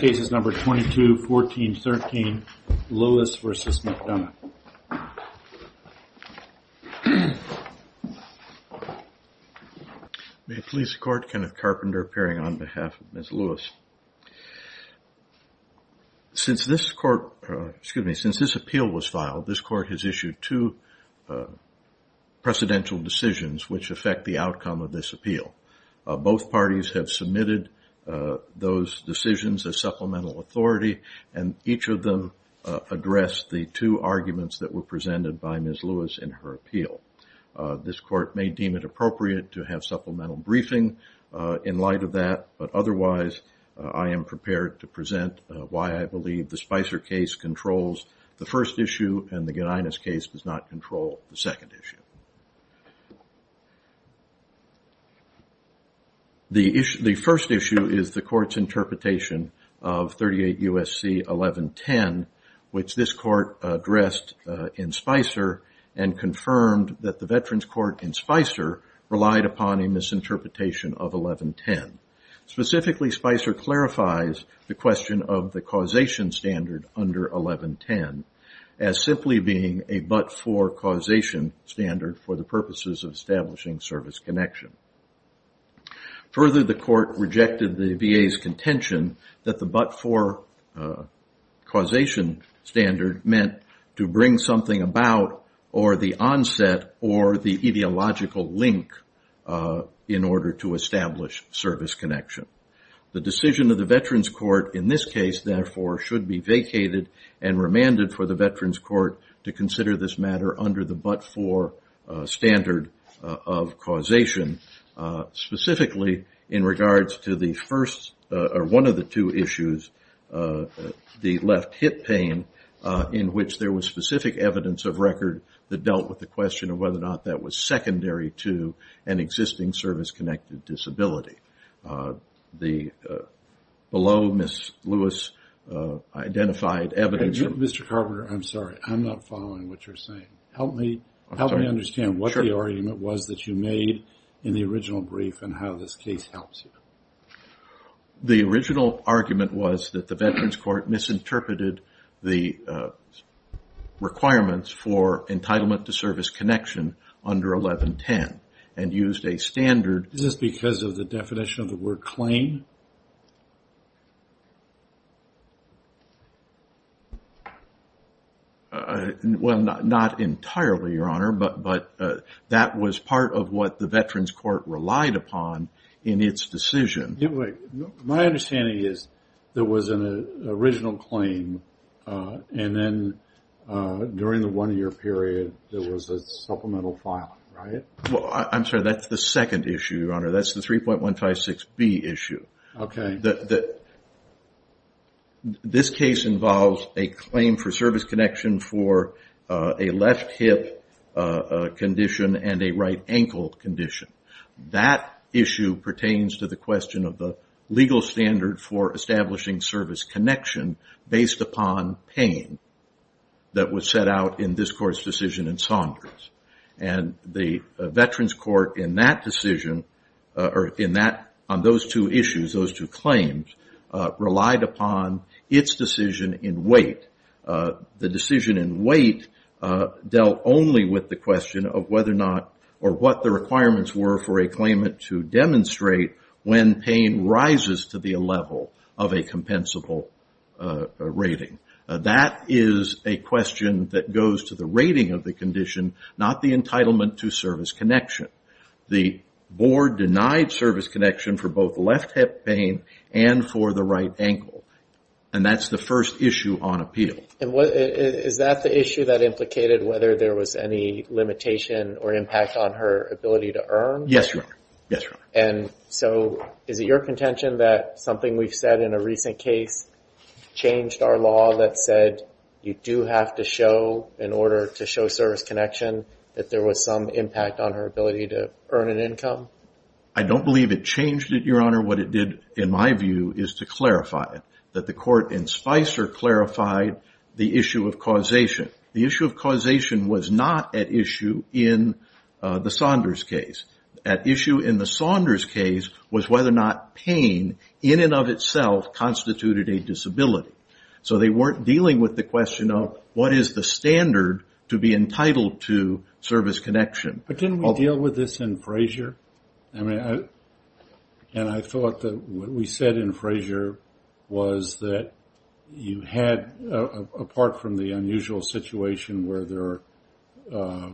Cases number 22, 14, 13, Lewis v. McDonough. May it please the court, Kenneth Carpenter appearing on behalf of Ms. Lewis. Since this court, excuse me, since this appeal was filed, this court has issued two precedential decisions which affect the outcome of this appeal. Both parties have submitted those decisions as supplemental authority and each of them addressed the two arguments that were presented by Ms. Lewis in her appeal. This court may deem it appropriate to have supplemental briefing in light of that, but otherwise I am prepared to present why I believe the Spicer case controls the first issue and the Guinanus case does not control the second issue. The first issue is the court's interpretation of 38 U.S.C. 1110 which this court addressed in Spicer and confirmed that the veterans court in Spicer relied upon a misinterpretation of 1110. Specifically Spicer clarifies the question of the causation standard under 1110 as simply being a but-for causation standard for the purposes of establishing service connection. Further the court rejected the VA's contention that the but-for causation standard meant to bring something about or the onset or the ideological link in order to establish service connection. The decision of the veterans court in this case therefore should be vacated and remanded for the veterans court to consider this matter under the but-for standard of causation. Specifically in regards to the first or one of the two issues, the left hip pain in which there was specific evidence of record that dealt with the question of whether or not that was secondary to an existing service connected disability. The below Ms. Lewis identified evidence. Mr. Carpenter, I'm sorry. I'm not following what you're saying. Help me understand what the argument was that you made in the original brief and how this case helps you. The original argument was that the veterans court misinterpreted the requirements for entitlement to service connection under 1110 and used a standard. Is this because of the definition of the word claim? Well, not entirely, your honor, but that was part of what the veterans court relied upon in its decision. My understanding is there was an original claim and then during the one-year period there was a supplemental filing, right? I'm sorry, that's the second issue, your honor. That's the 3.156B issue. This case involves a claim for service connection for a left hip condition and a right ankle condition. That issue pertains to the question of the legal standard for establishing service connection based upon pain that was set out in this court's decision in Saunders. The veterans court in that decision or on those two issues, those two claims, relied upon its decision in weight. The decision in weight dealt only with the question of whether or not or what the requirements were for a claimant to demonstrate when pain rises to the level of a compensable rating. That is a question that goes to the rating of the condition, not the entitlement to service connection. The board denied service connection for both left hip pain and for the right ankle. That's the first issue on appeal. Is that the issue that implicated whether there was any limitation or impact on her ability to earn? Yes, your honor. And so is it your contention that something we've said in a recent case changed our law that said you do have to show, in order to show service connection, that there was some impact on her ability to earn an income? I don't believe it changed it, your honor. What it did, in my view, is to clarify it, that the court in Spicer clarified the issue of causation. The issue of causation was not at issue in the Saunders case. At issue in the Saunders case was whether or not pain, in and of itself, constituted a disability. So they weren't dealing with the question of what is the standard to be entitled to service connection. But didn't we deal with this in Frazier? And I thought that what we said in Frazier was that you had, apart from the unusual situation where there are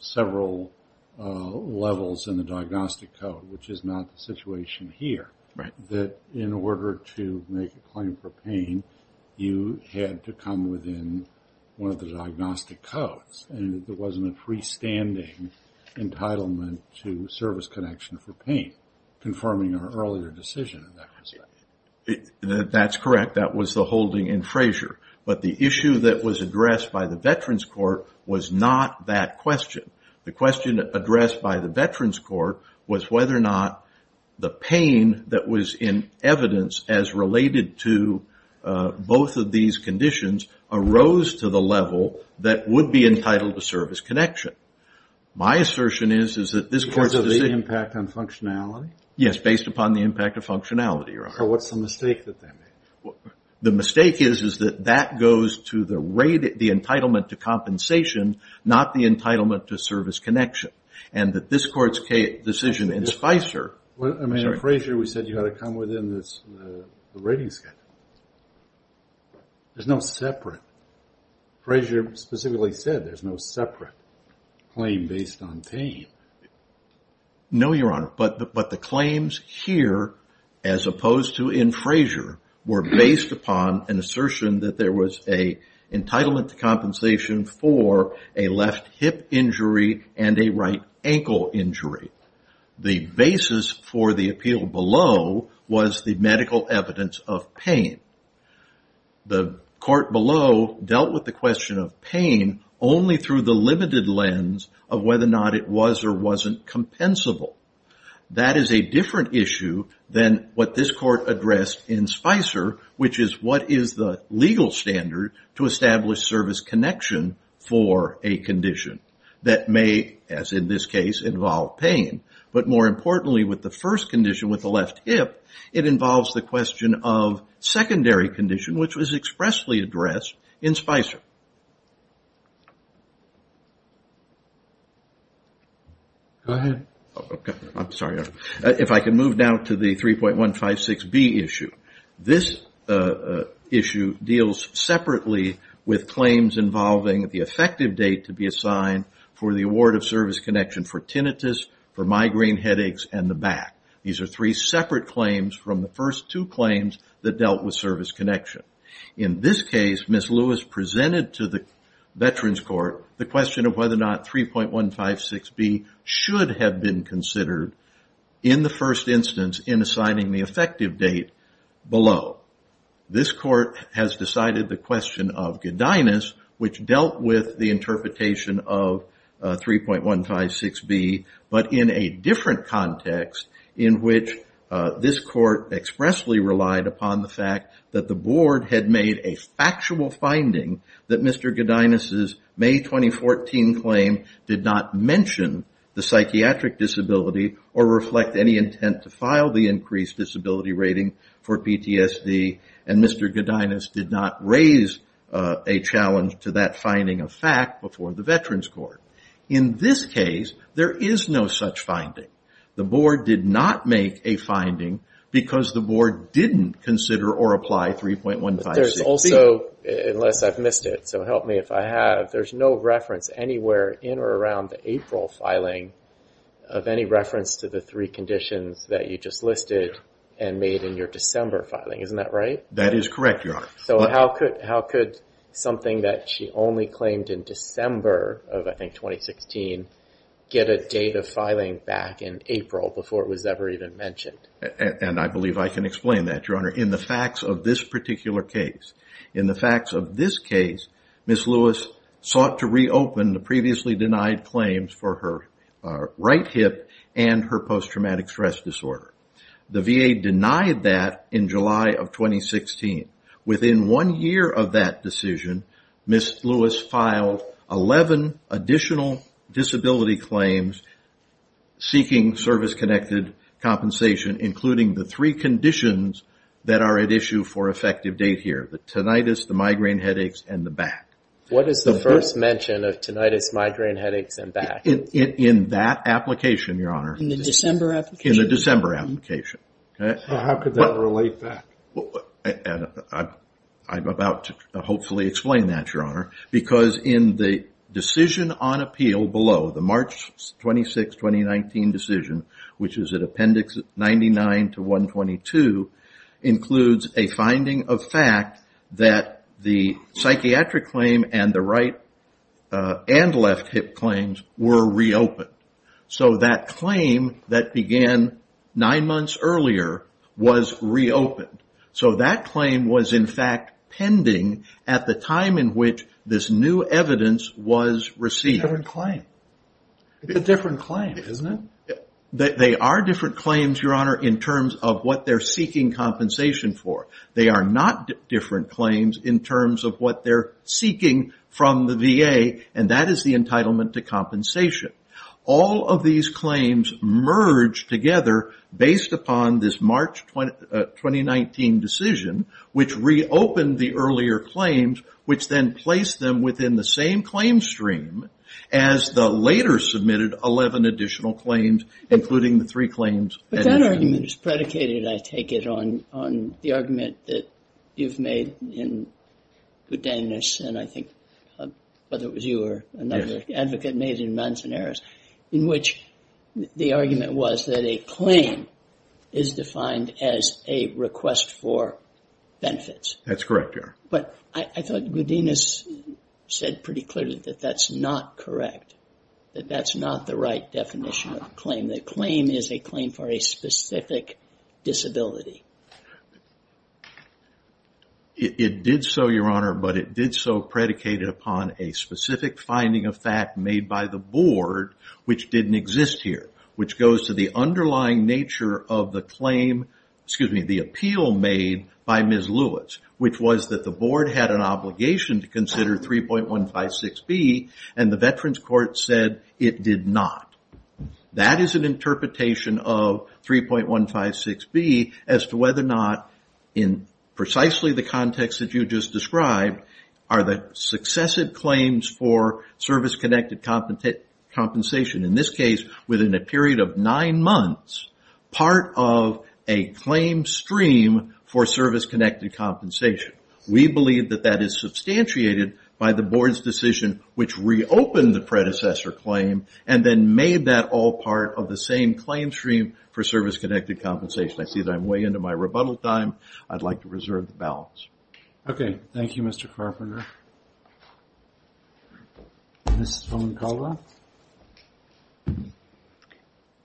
several levels in the diagnostic code, which is not the situation here, that in order to make a claim for pain, you had to come within one of the diagnostic codes. And there wasn't a freestanding entitlement to service connection for pain, confirming our earlier decision in that respect. That's correct. That was the holding in Frazier. But the issue that was addressed by the Veterans Court was not that question. The question addressed by the Veterans Court was whether or not the pain that was in evidence as related to both of these conditions arose to the level that would be entitled to service connection. My assertion is that this court Because of the impact on functionality? What's the mistake that they made? The mistake is that that goes to the entitlement to compensation, not the entitlement to service connection. And that this court's decision in Spicer I mean, in Frazier, we said you had to come within the rating schedule. There's no separate Frazier specifically said there's no separate claim based on pain. No, Your Honor. But the claims here, as opposed to in Frazier, were based upon an assertion that there was an entitlement to compensation for a left hip injury and a right ankle injury. The basis for the appeal below was the medical evidence of pain. The court below dealt with the question of pain only through the limited lens of whether or not it was or wasn't compensable. That is a different issue than what this court addressed in Spicer, which is what is the legal standard to establish service connection for a condition that may, as in this case, involve pain. But more importantly, with the first condition with the left hip, it involves the question of secondary condition, which was expressly addressed in Spicer. If I can move now to the 3.156B issue. This issue deals separately with claims involving the effective date to be assigned for the award of service connection for tinnitus, for migraine from the first two claims that dealt with service connection. In this case, Ms. Lewis presented to the Veterans Court the question of whether or not 3.156B should have been considered in the first instance in assigning the effective date below. This court has decided the question of giddiness, which dealt with the interpretation of 3.156B, but in a different context in which this court expressly relied upon the fact that the board had made a factual finding that Mr. Giddiness' May 2014 claim did not mention the psychiatric disability or reflect any intent to file the increased disability rating for PTSD, and Mr. Giddiness did not raise a challenge to that finding of fact before the Veterans Court. In this case, there is no such finding. The board did not make a finding because the board didn't consider or apply 3.156B. But there's also, unless I've missed it, so help me if I have, there's no reference anywhere in or around the April filing of any reference to the three conditions that you just listed and made in your December filing. Isn't that right? That is correct, Your Honor. So how could something that she only claimed in December of, I think, 2016, get a date of filing back in April before it was ever even mentioned? And I believe I can explain that, Your Honor, in the facts of this particular case. In the facts of this case, Ms. Lewis sought to reopen the previously denied claims for her right hip and her post-traumatic stress disorder. The VA denied that in July of 2016. Within one year of that decision, Ms. Lewis filed 11 additional disability claims seeking service-connected compensation, including the three conditions that are at issue for effective date here, the tinnitus, the migraine headaches, and the back. What is the first mention of tinnitus, migraine headaches, and back? In that application, Your Honor. In the December application? In the December application. How could that relate back? I'm about to hopefully explain that, Your Honor, because in the decision on appeal below, the March 26, 2019 decision, which is at Appendix 99 to 122, includes a finding of fact that the psychiatric claim and the right and left hip claims were reopened. So that claim that began nine months earlier was reopened. So that claim was, in fact, pending at the time in which this new evidence was received. It's a different claim. It's a different claim, isn't it? They are different claims, Your Honor, in terms of what they're seeking compensation for. They are not different claims in terms of what they're seeking from the VA, and that is the entitlement to compensation. All of these claims merge together based upon this March 2019 decision, which reopened the earlier claims, which then placed them within the same claim stream as the later submitted 11 additional claims, including the three claims. But that argument is predicated, I take it, on the argument that you've made in Good Day Nurse, and I think whether it was you or another advocate made in Manzaneras, in which the argument was that a claim is defined as a request for benefits. That's correct, Your Honor. But I thought Good Day Nurse said pretty clearly that that's not correct, that that's not the right definition of a claim. The claim is a claim for a specific disability. It did so, Your Honor, but it did so predicated upon a specific finding of fact made by the board, which didn't exist here, which goes to the underlying nature of the claim, excuse me, the appeal made by Ms. Lewis, which was that the board had an obligation to consider 3.156B, and the Veterans Court said it did not. That is an interpretation of 3.156B as to whether or not, in precisely the context that you just described, are the successive claims for service-connected compensation, in this case, within a period of nine months, part of a claim stream for service-connected compensation. We believe that that is substantiated by the board's decision, which reopened the predecessor claim and then made that all part of the same claim stream for service-connected compensation. I see that I'm way into my rebuttal time. I'd like to reserve the balance. Okay. Thank you, Mr. Carpenter. Ms. Foncala.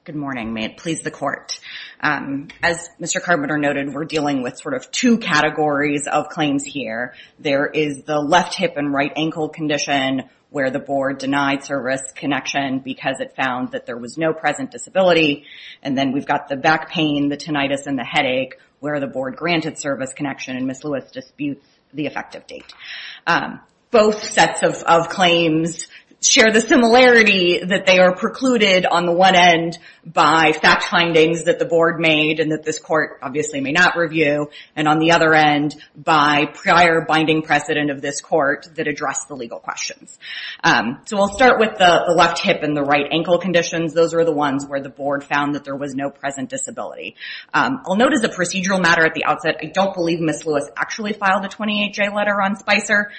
Good morning. May it please the Court. As Mr. Carpenter noted, we're dealing with sort of two categories of claims here. There is the left hip and right ankle condition, where the board denied service connection because it found that there was no present disability, and then we've got the back pain, the tinnitus, and the headache, where the board granted service connection, and Ms. Lewis disputes the effective date. Both sets of claims share the similarity that they are precluded, on the one end, by fact findings that the board made and that this Court obviously may not review, and on the other end, by prior binding precedent of this Court that addressed the legal questions. So we'll start with the left hip and the right ankle conditions. Those are the ones where the board found that there was no present disability. I'll note as a procedural matter at the outset, I don't believe Ms. Lewis actually filed a 28-J letter on Spicer,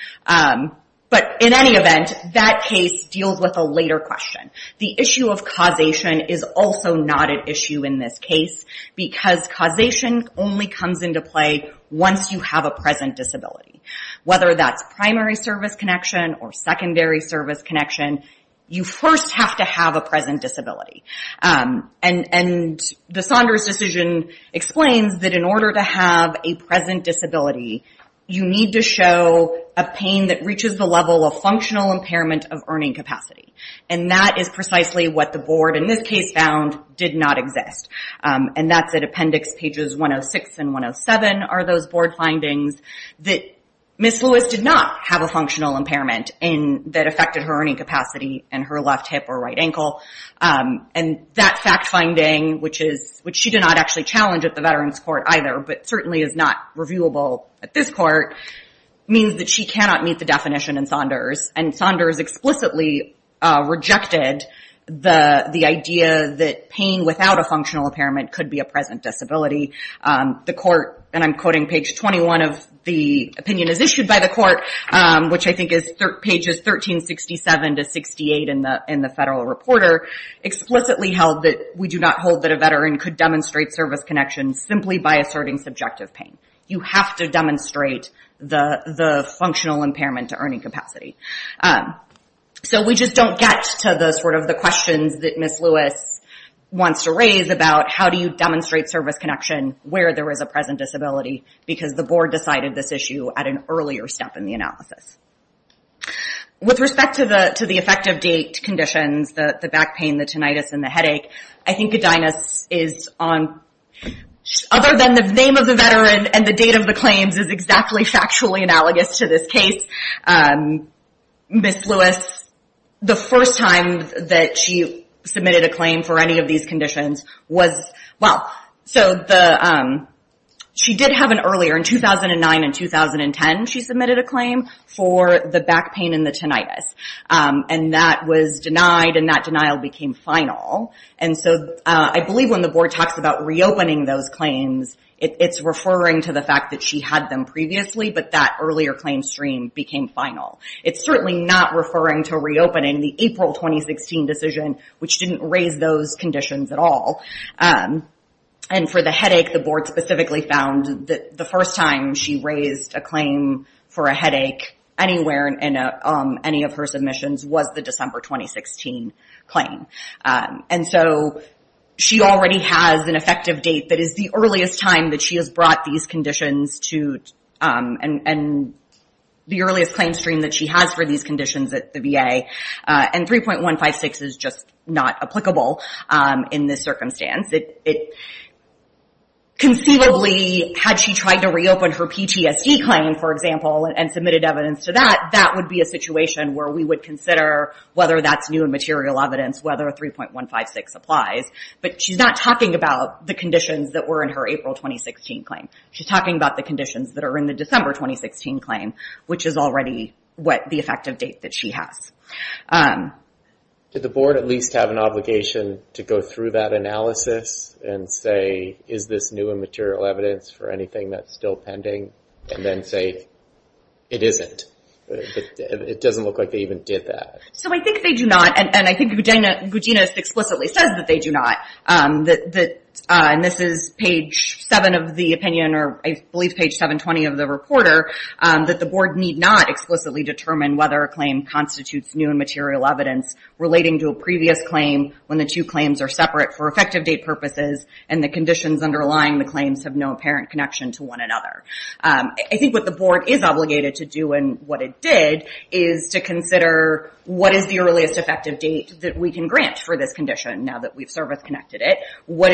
but in any event, that case deals with a later question. The issue of causation is also not an issue in this case because causation only comes into play once you have a present disability. Whether that's primary service connection or secondary service connection, you first have to have a present disability. And the Saunders decision explains that in order to have a present disability, you need to show a pain that reaches the level of functional impairment of earning capacity. And that is precisely what the board, in this case, found did not exist. And that's at Appendix Pages 106 and 107 are those board findings that Ms. Lewis did not have a functional impairment that affected her earning capacity in her left hip or right ankle. And that fact finding, which she did not actually challenge at the Veterans Court either, but certainly is not reviewable at this Court, means that she cannot meet the definition in Saunders. And Saunders explicitly rejected the idea that pain without a functional impairment could be a present disability. The Court, and I'm quoting page 21 of the opinion as issued by the Court, which I think is pages 1367 to 68 in the Federal Reporter, explicitly held that we do not hold that a veteran could demonstrate service connection simply by asserting subjective pain. You have to demonstrate the functional impairment to earning capacity. So we just don't get to the sort of the questions that Ms. Lewis wants to raise about how do you demonstrate service connection where there is a present disability because the board decided this issue at an earlier step in the analysis. With respect to the effective date conditions, the back pain, the tinnitus, and the headache, I think Godinez is on, other than the name of the veteran and the date of the claims is exactly factually analogous to this case. Ms. Lewis, the first time that she submitted a claim for any of these conditions was, well, so she did have an earlier, in 2009 and 2010, she submitted a claim for the back pain and the tinnitus. And that was denied and that denial became final. And so I believe when the board talks about reopening those claims, it's referring to the fact that she had them previously, but that earlier claim stream became final. It's certainly not referring to reopening the April 2016 decision, which didn't raise those conditions at all. And for the headache, the board specifically found that the first time she raised a claim for a headache anywhere in any of her submissions was the December 2016 claim. And so she already has an effective date that is the earliest time that she has brought these conditions to, and the earliest claim stream that she has for these conditions at the VA. And 3.156 is just not applicable in this circumstance. Conceivably, had she tried to reopen her PTSD claim, for example, and submitted evidence to that, that would be a situation where we would consider whether that's new and material evidence, whether 3.156 applies. But she's not talking about the conditions that were in her April 2016 claim. She's talking about the conditions that are in the December 2016 claim, which is already the effective date that she has. Did the board at least have an obligation to go through that analysis and say, is this new and material evidence for anything that's still pending? And then say, it isn't. It doesn't look like they even did that. So I think they do not, and I think Guginous explicitly says that they do not. And this is page seven of the opinion, or I believe page 720 of the reporter, that the board need not explicitly determine whether a claim constitutes new and material evidence relating to a previous claim when the two claims are separate for effective date purposes and the conditions underlying the claims have no apparent connection to one another. I think what the board is obligated to do, and what it did, is to consider what is the earliest effective date that we can grant for this condition now that we've service-connected it. When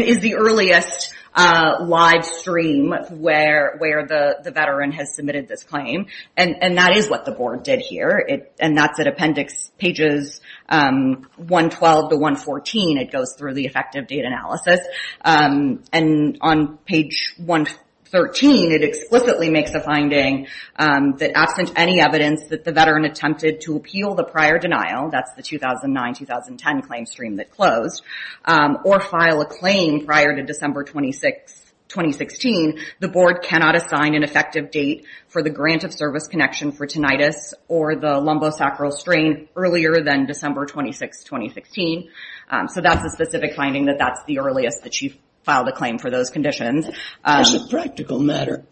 is the earliest live stream where the veteran has submitted this claim? And that is what the board did here, and that's at appendix pages 112 to 114. It goes through the effective date analysis, and on page 113, it explicitly makes a finding that absent any evidence that the veteran attempted to appeal the prior denial, that's the 2009-2010 claim stream that closed, or file a claim prior to December 2016, the board cannot assign an effective date for the grant of service connection for tinnitus or the lumbosacral strain earlier than December 26, 2016. So that's a specific finding that that's the earliest that you've filed a claim for those conditions. As a practical matter,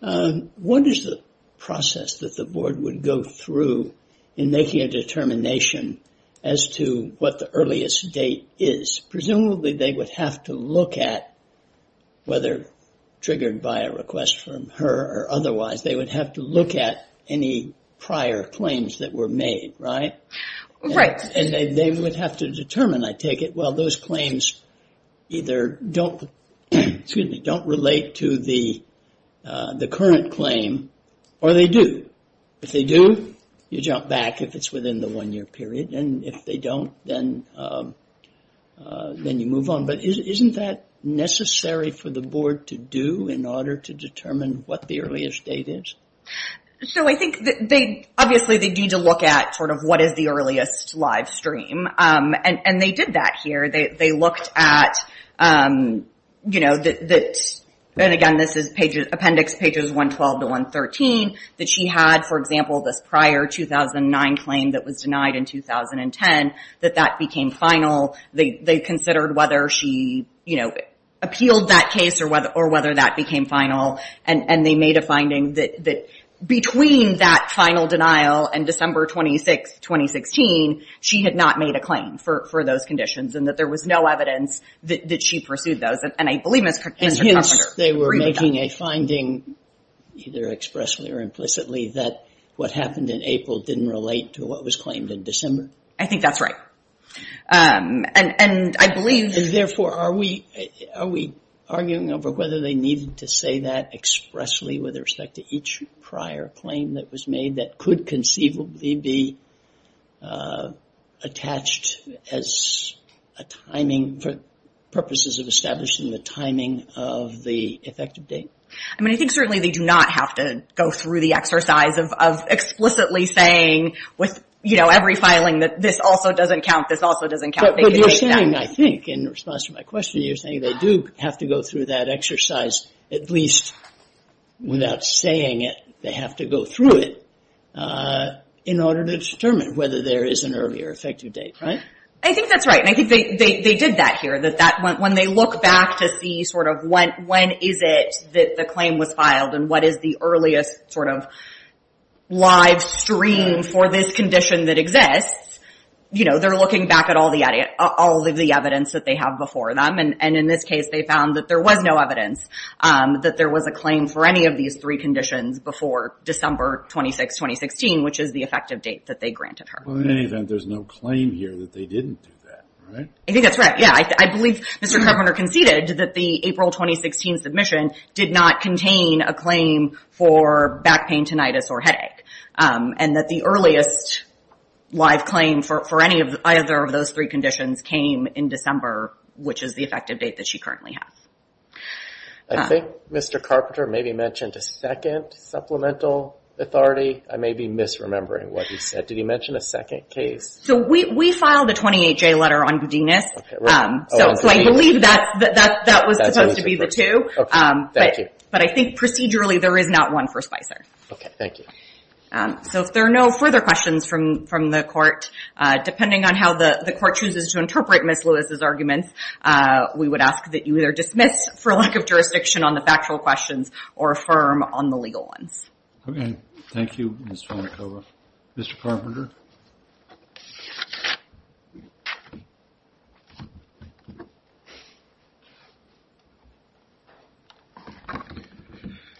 what is the process that the board would go through in making a determination as to what the earliest date is? Presumably they would have to look at, whether triggered by a request from her or otherwise, they would have to look at any prior claims that were made, right? And they would have to determine, I take it, well, those claims either don't relate to the current claim, or they do. If they do, you jump back if it's within the one-year period, and if they don't, then you move on. But isn't that necessary for the board to do in order to determine what the earliest date is? So I think that they, obviously they need to look at sort of what is the earliest live stream, and they did that here. They looked at, you know, and again, this is appendix pages 112 to 113, that she had, for example, this prior 2009 claim that was denied in 2010, that that became final. They considered whether she appealed that case or whether that became final, and they made a finding that between that final denial and December 26, 2016, she had not made a claim for those conditions and that there was no evidence that she pursued those. And I believe, Mr. Connolly, they were making a finding either expressly or implicitly that what happened in April didn't relate to what was claimed in December. I think that's right. And I believe... Therefore, are we arguing over whether they needed to say that expressly with respect to each prior claim that was made that could conceivably be attached as a timing for purposes of establishing the timing of the effective date? I mean, I think certainly they do not have to go through the exercise of explicitly saying with, you know, every filing that this also doesn't count, this also doesn't count. But you're saying, I think, in response to my question, you're saying they do have to go through that exercise, at least without saying it, they have to go through it in order to determine whether there is an earlier effective date, right? I think that's right. And I think they did that here. When they look back to see sort of when is it that the claim was filed and what is the earliest sort of live stream for this condition that exists, you know, they're looking back at all the evidence that they have before them. And in this case, they found that there was no evidence that there was a claim for any of these three conditions before December 26, 2016, which is the effective date that they granted her. Well, in any event, there's no claim here that they didn't do that, right? I think that's right. Yeah, I believe Mr. Carpenter conceded that the April 2016 submission did not contain a claim for back pain, tinnitus or headache. And that the earliest live claim for any of either of those three conditions came in December, which is the effective date that she currently has. I think Mr. Carpenter maybe mentioned a second supplemental authority. I may be misremembering what he said. Did he mention a second case? So we filed a 28-J letter on Budinus. So I believe that was supposed to be the two. Okay, thank you. But I think procedurally there is not one for Spicer. Okay, thank you. So if there are no further questions from the Court, depending on how the Court chooses to interpret Ms. Lewis' arguments, we would ask that you either dismiss for lack of jurisdiction on the factual questions or affirm on the legal ones. Okay, thank you, Ms. Vonikova. Mr. Carpenter?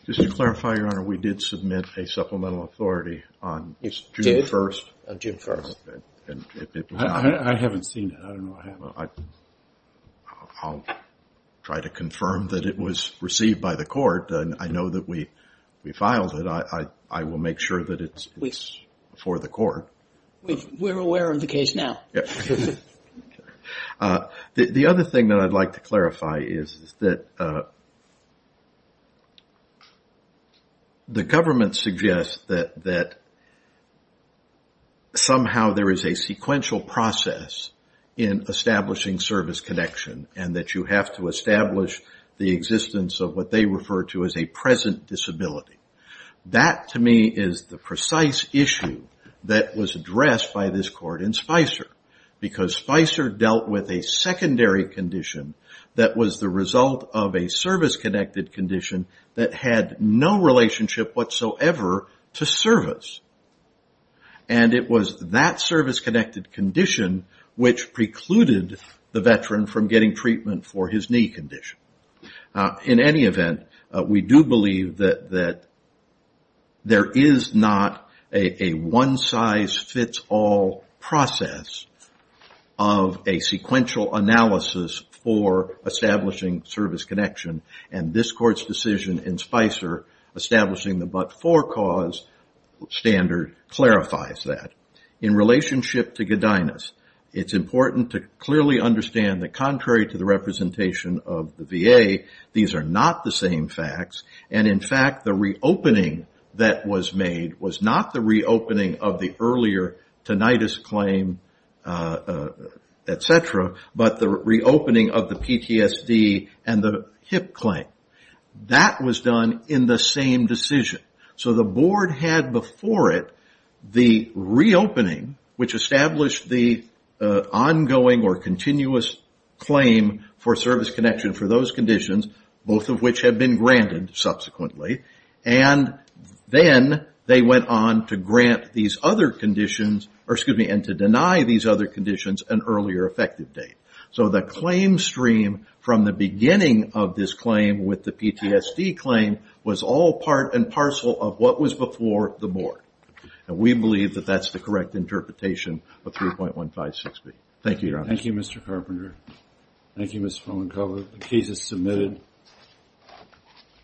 Just to clarify, Your Honor, we did submit a supplemental authority on June 1st. I haven't seen it. I don't know. I'll try to confirm that it was received by the Court. I know that we filed it. I will make sure that it's for the Court. We're aware of the case now. The other thing that I'd like to clarify is that the government suggests that somehow there is a sequential process in establishing service connection and that you have to establish the existence of what they refer to as a present disability. That to me is the precise issue that was addressed by this Court in Spicer because Spicer dealt with a secondary condition that was the result of a service-connected condition that had no relationship whatsoever to service. And it was that service-connected condition which precluded the veteran from getting treatment for his knee condition. In any event, we do believe that there is not a one-size-fits-all process of a sequential analysis for establishing service connection and this Court's decision in Spicer establishing the but-for cause standard clarifies that. In relationship to Godinus, it's important to clearly understand that contrary to the representation of the VA, these are not the same facts and in fact the reopening that was made was not the reopening of the earlier tinnitus claim, etc., but the reopening of the PTSD and the hip claim. That was done in the same decision. So the Board had before it the reopening which established the ongoing or continuous claim for service connection for those conditions, both of which had been granted subsequently. And then they went on to grant these other conditions and to deny these other conditions an earlier effective date. So the claim to stream from the beginning of this claim with the PTSD claim was all part and parcel of what was before the Board. And we believe that that's the correct interpretation of 3.156B. Thank you, Your Honor. Thank you, Mr. Carpenter. Thank you, Ms. Fallencover. The case is submitted.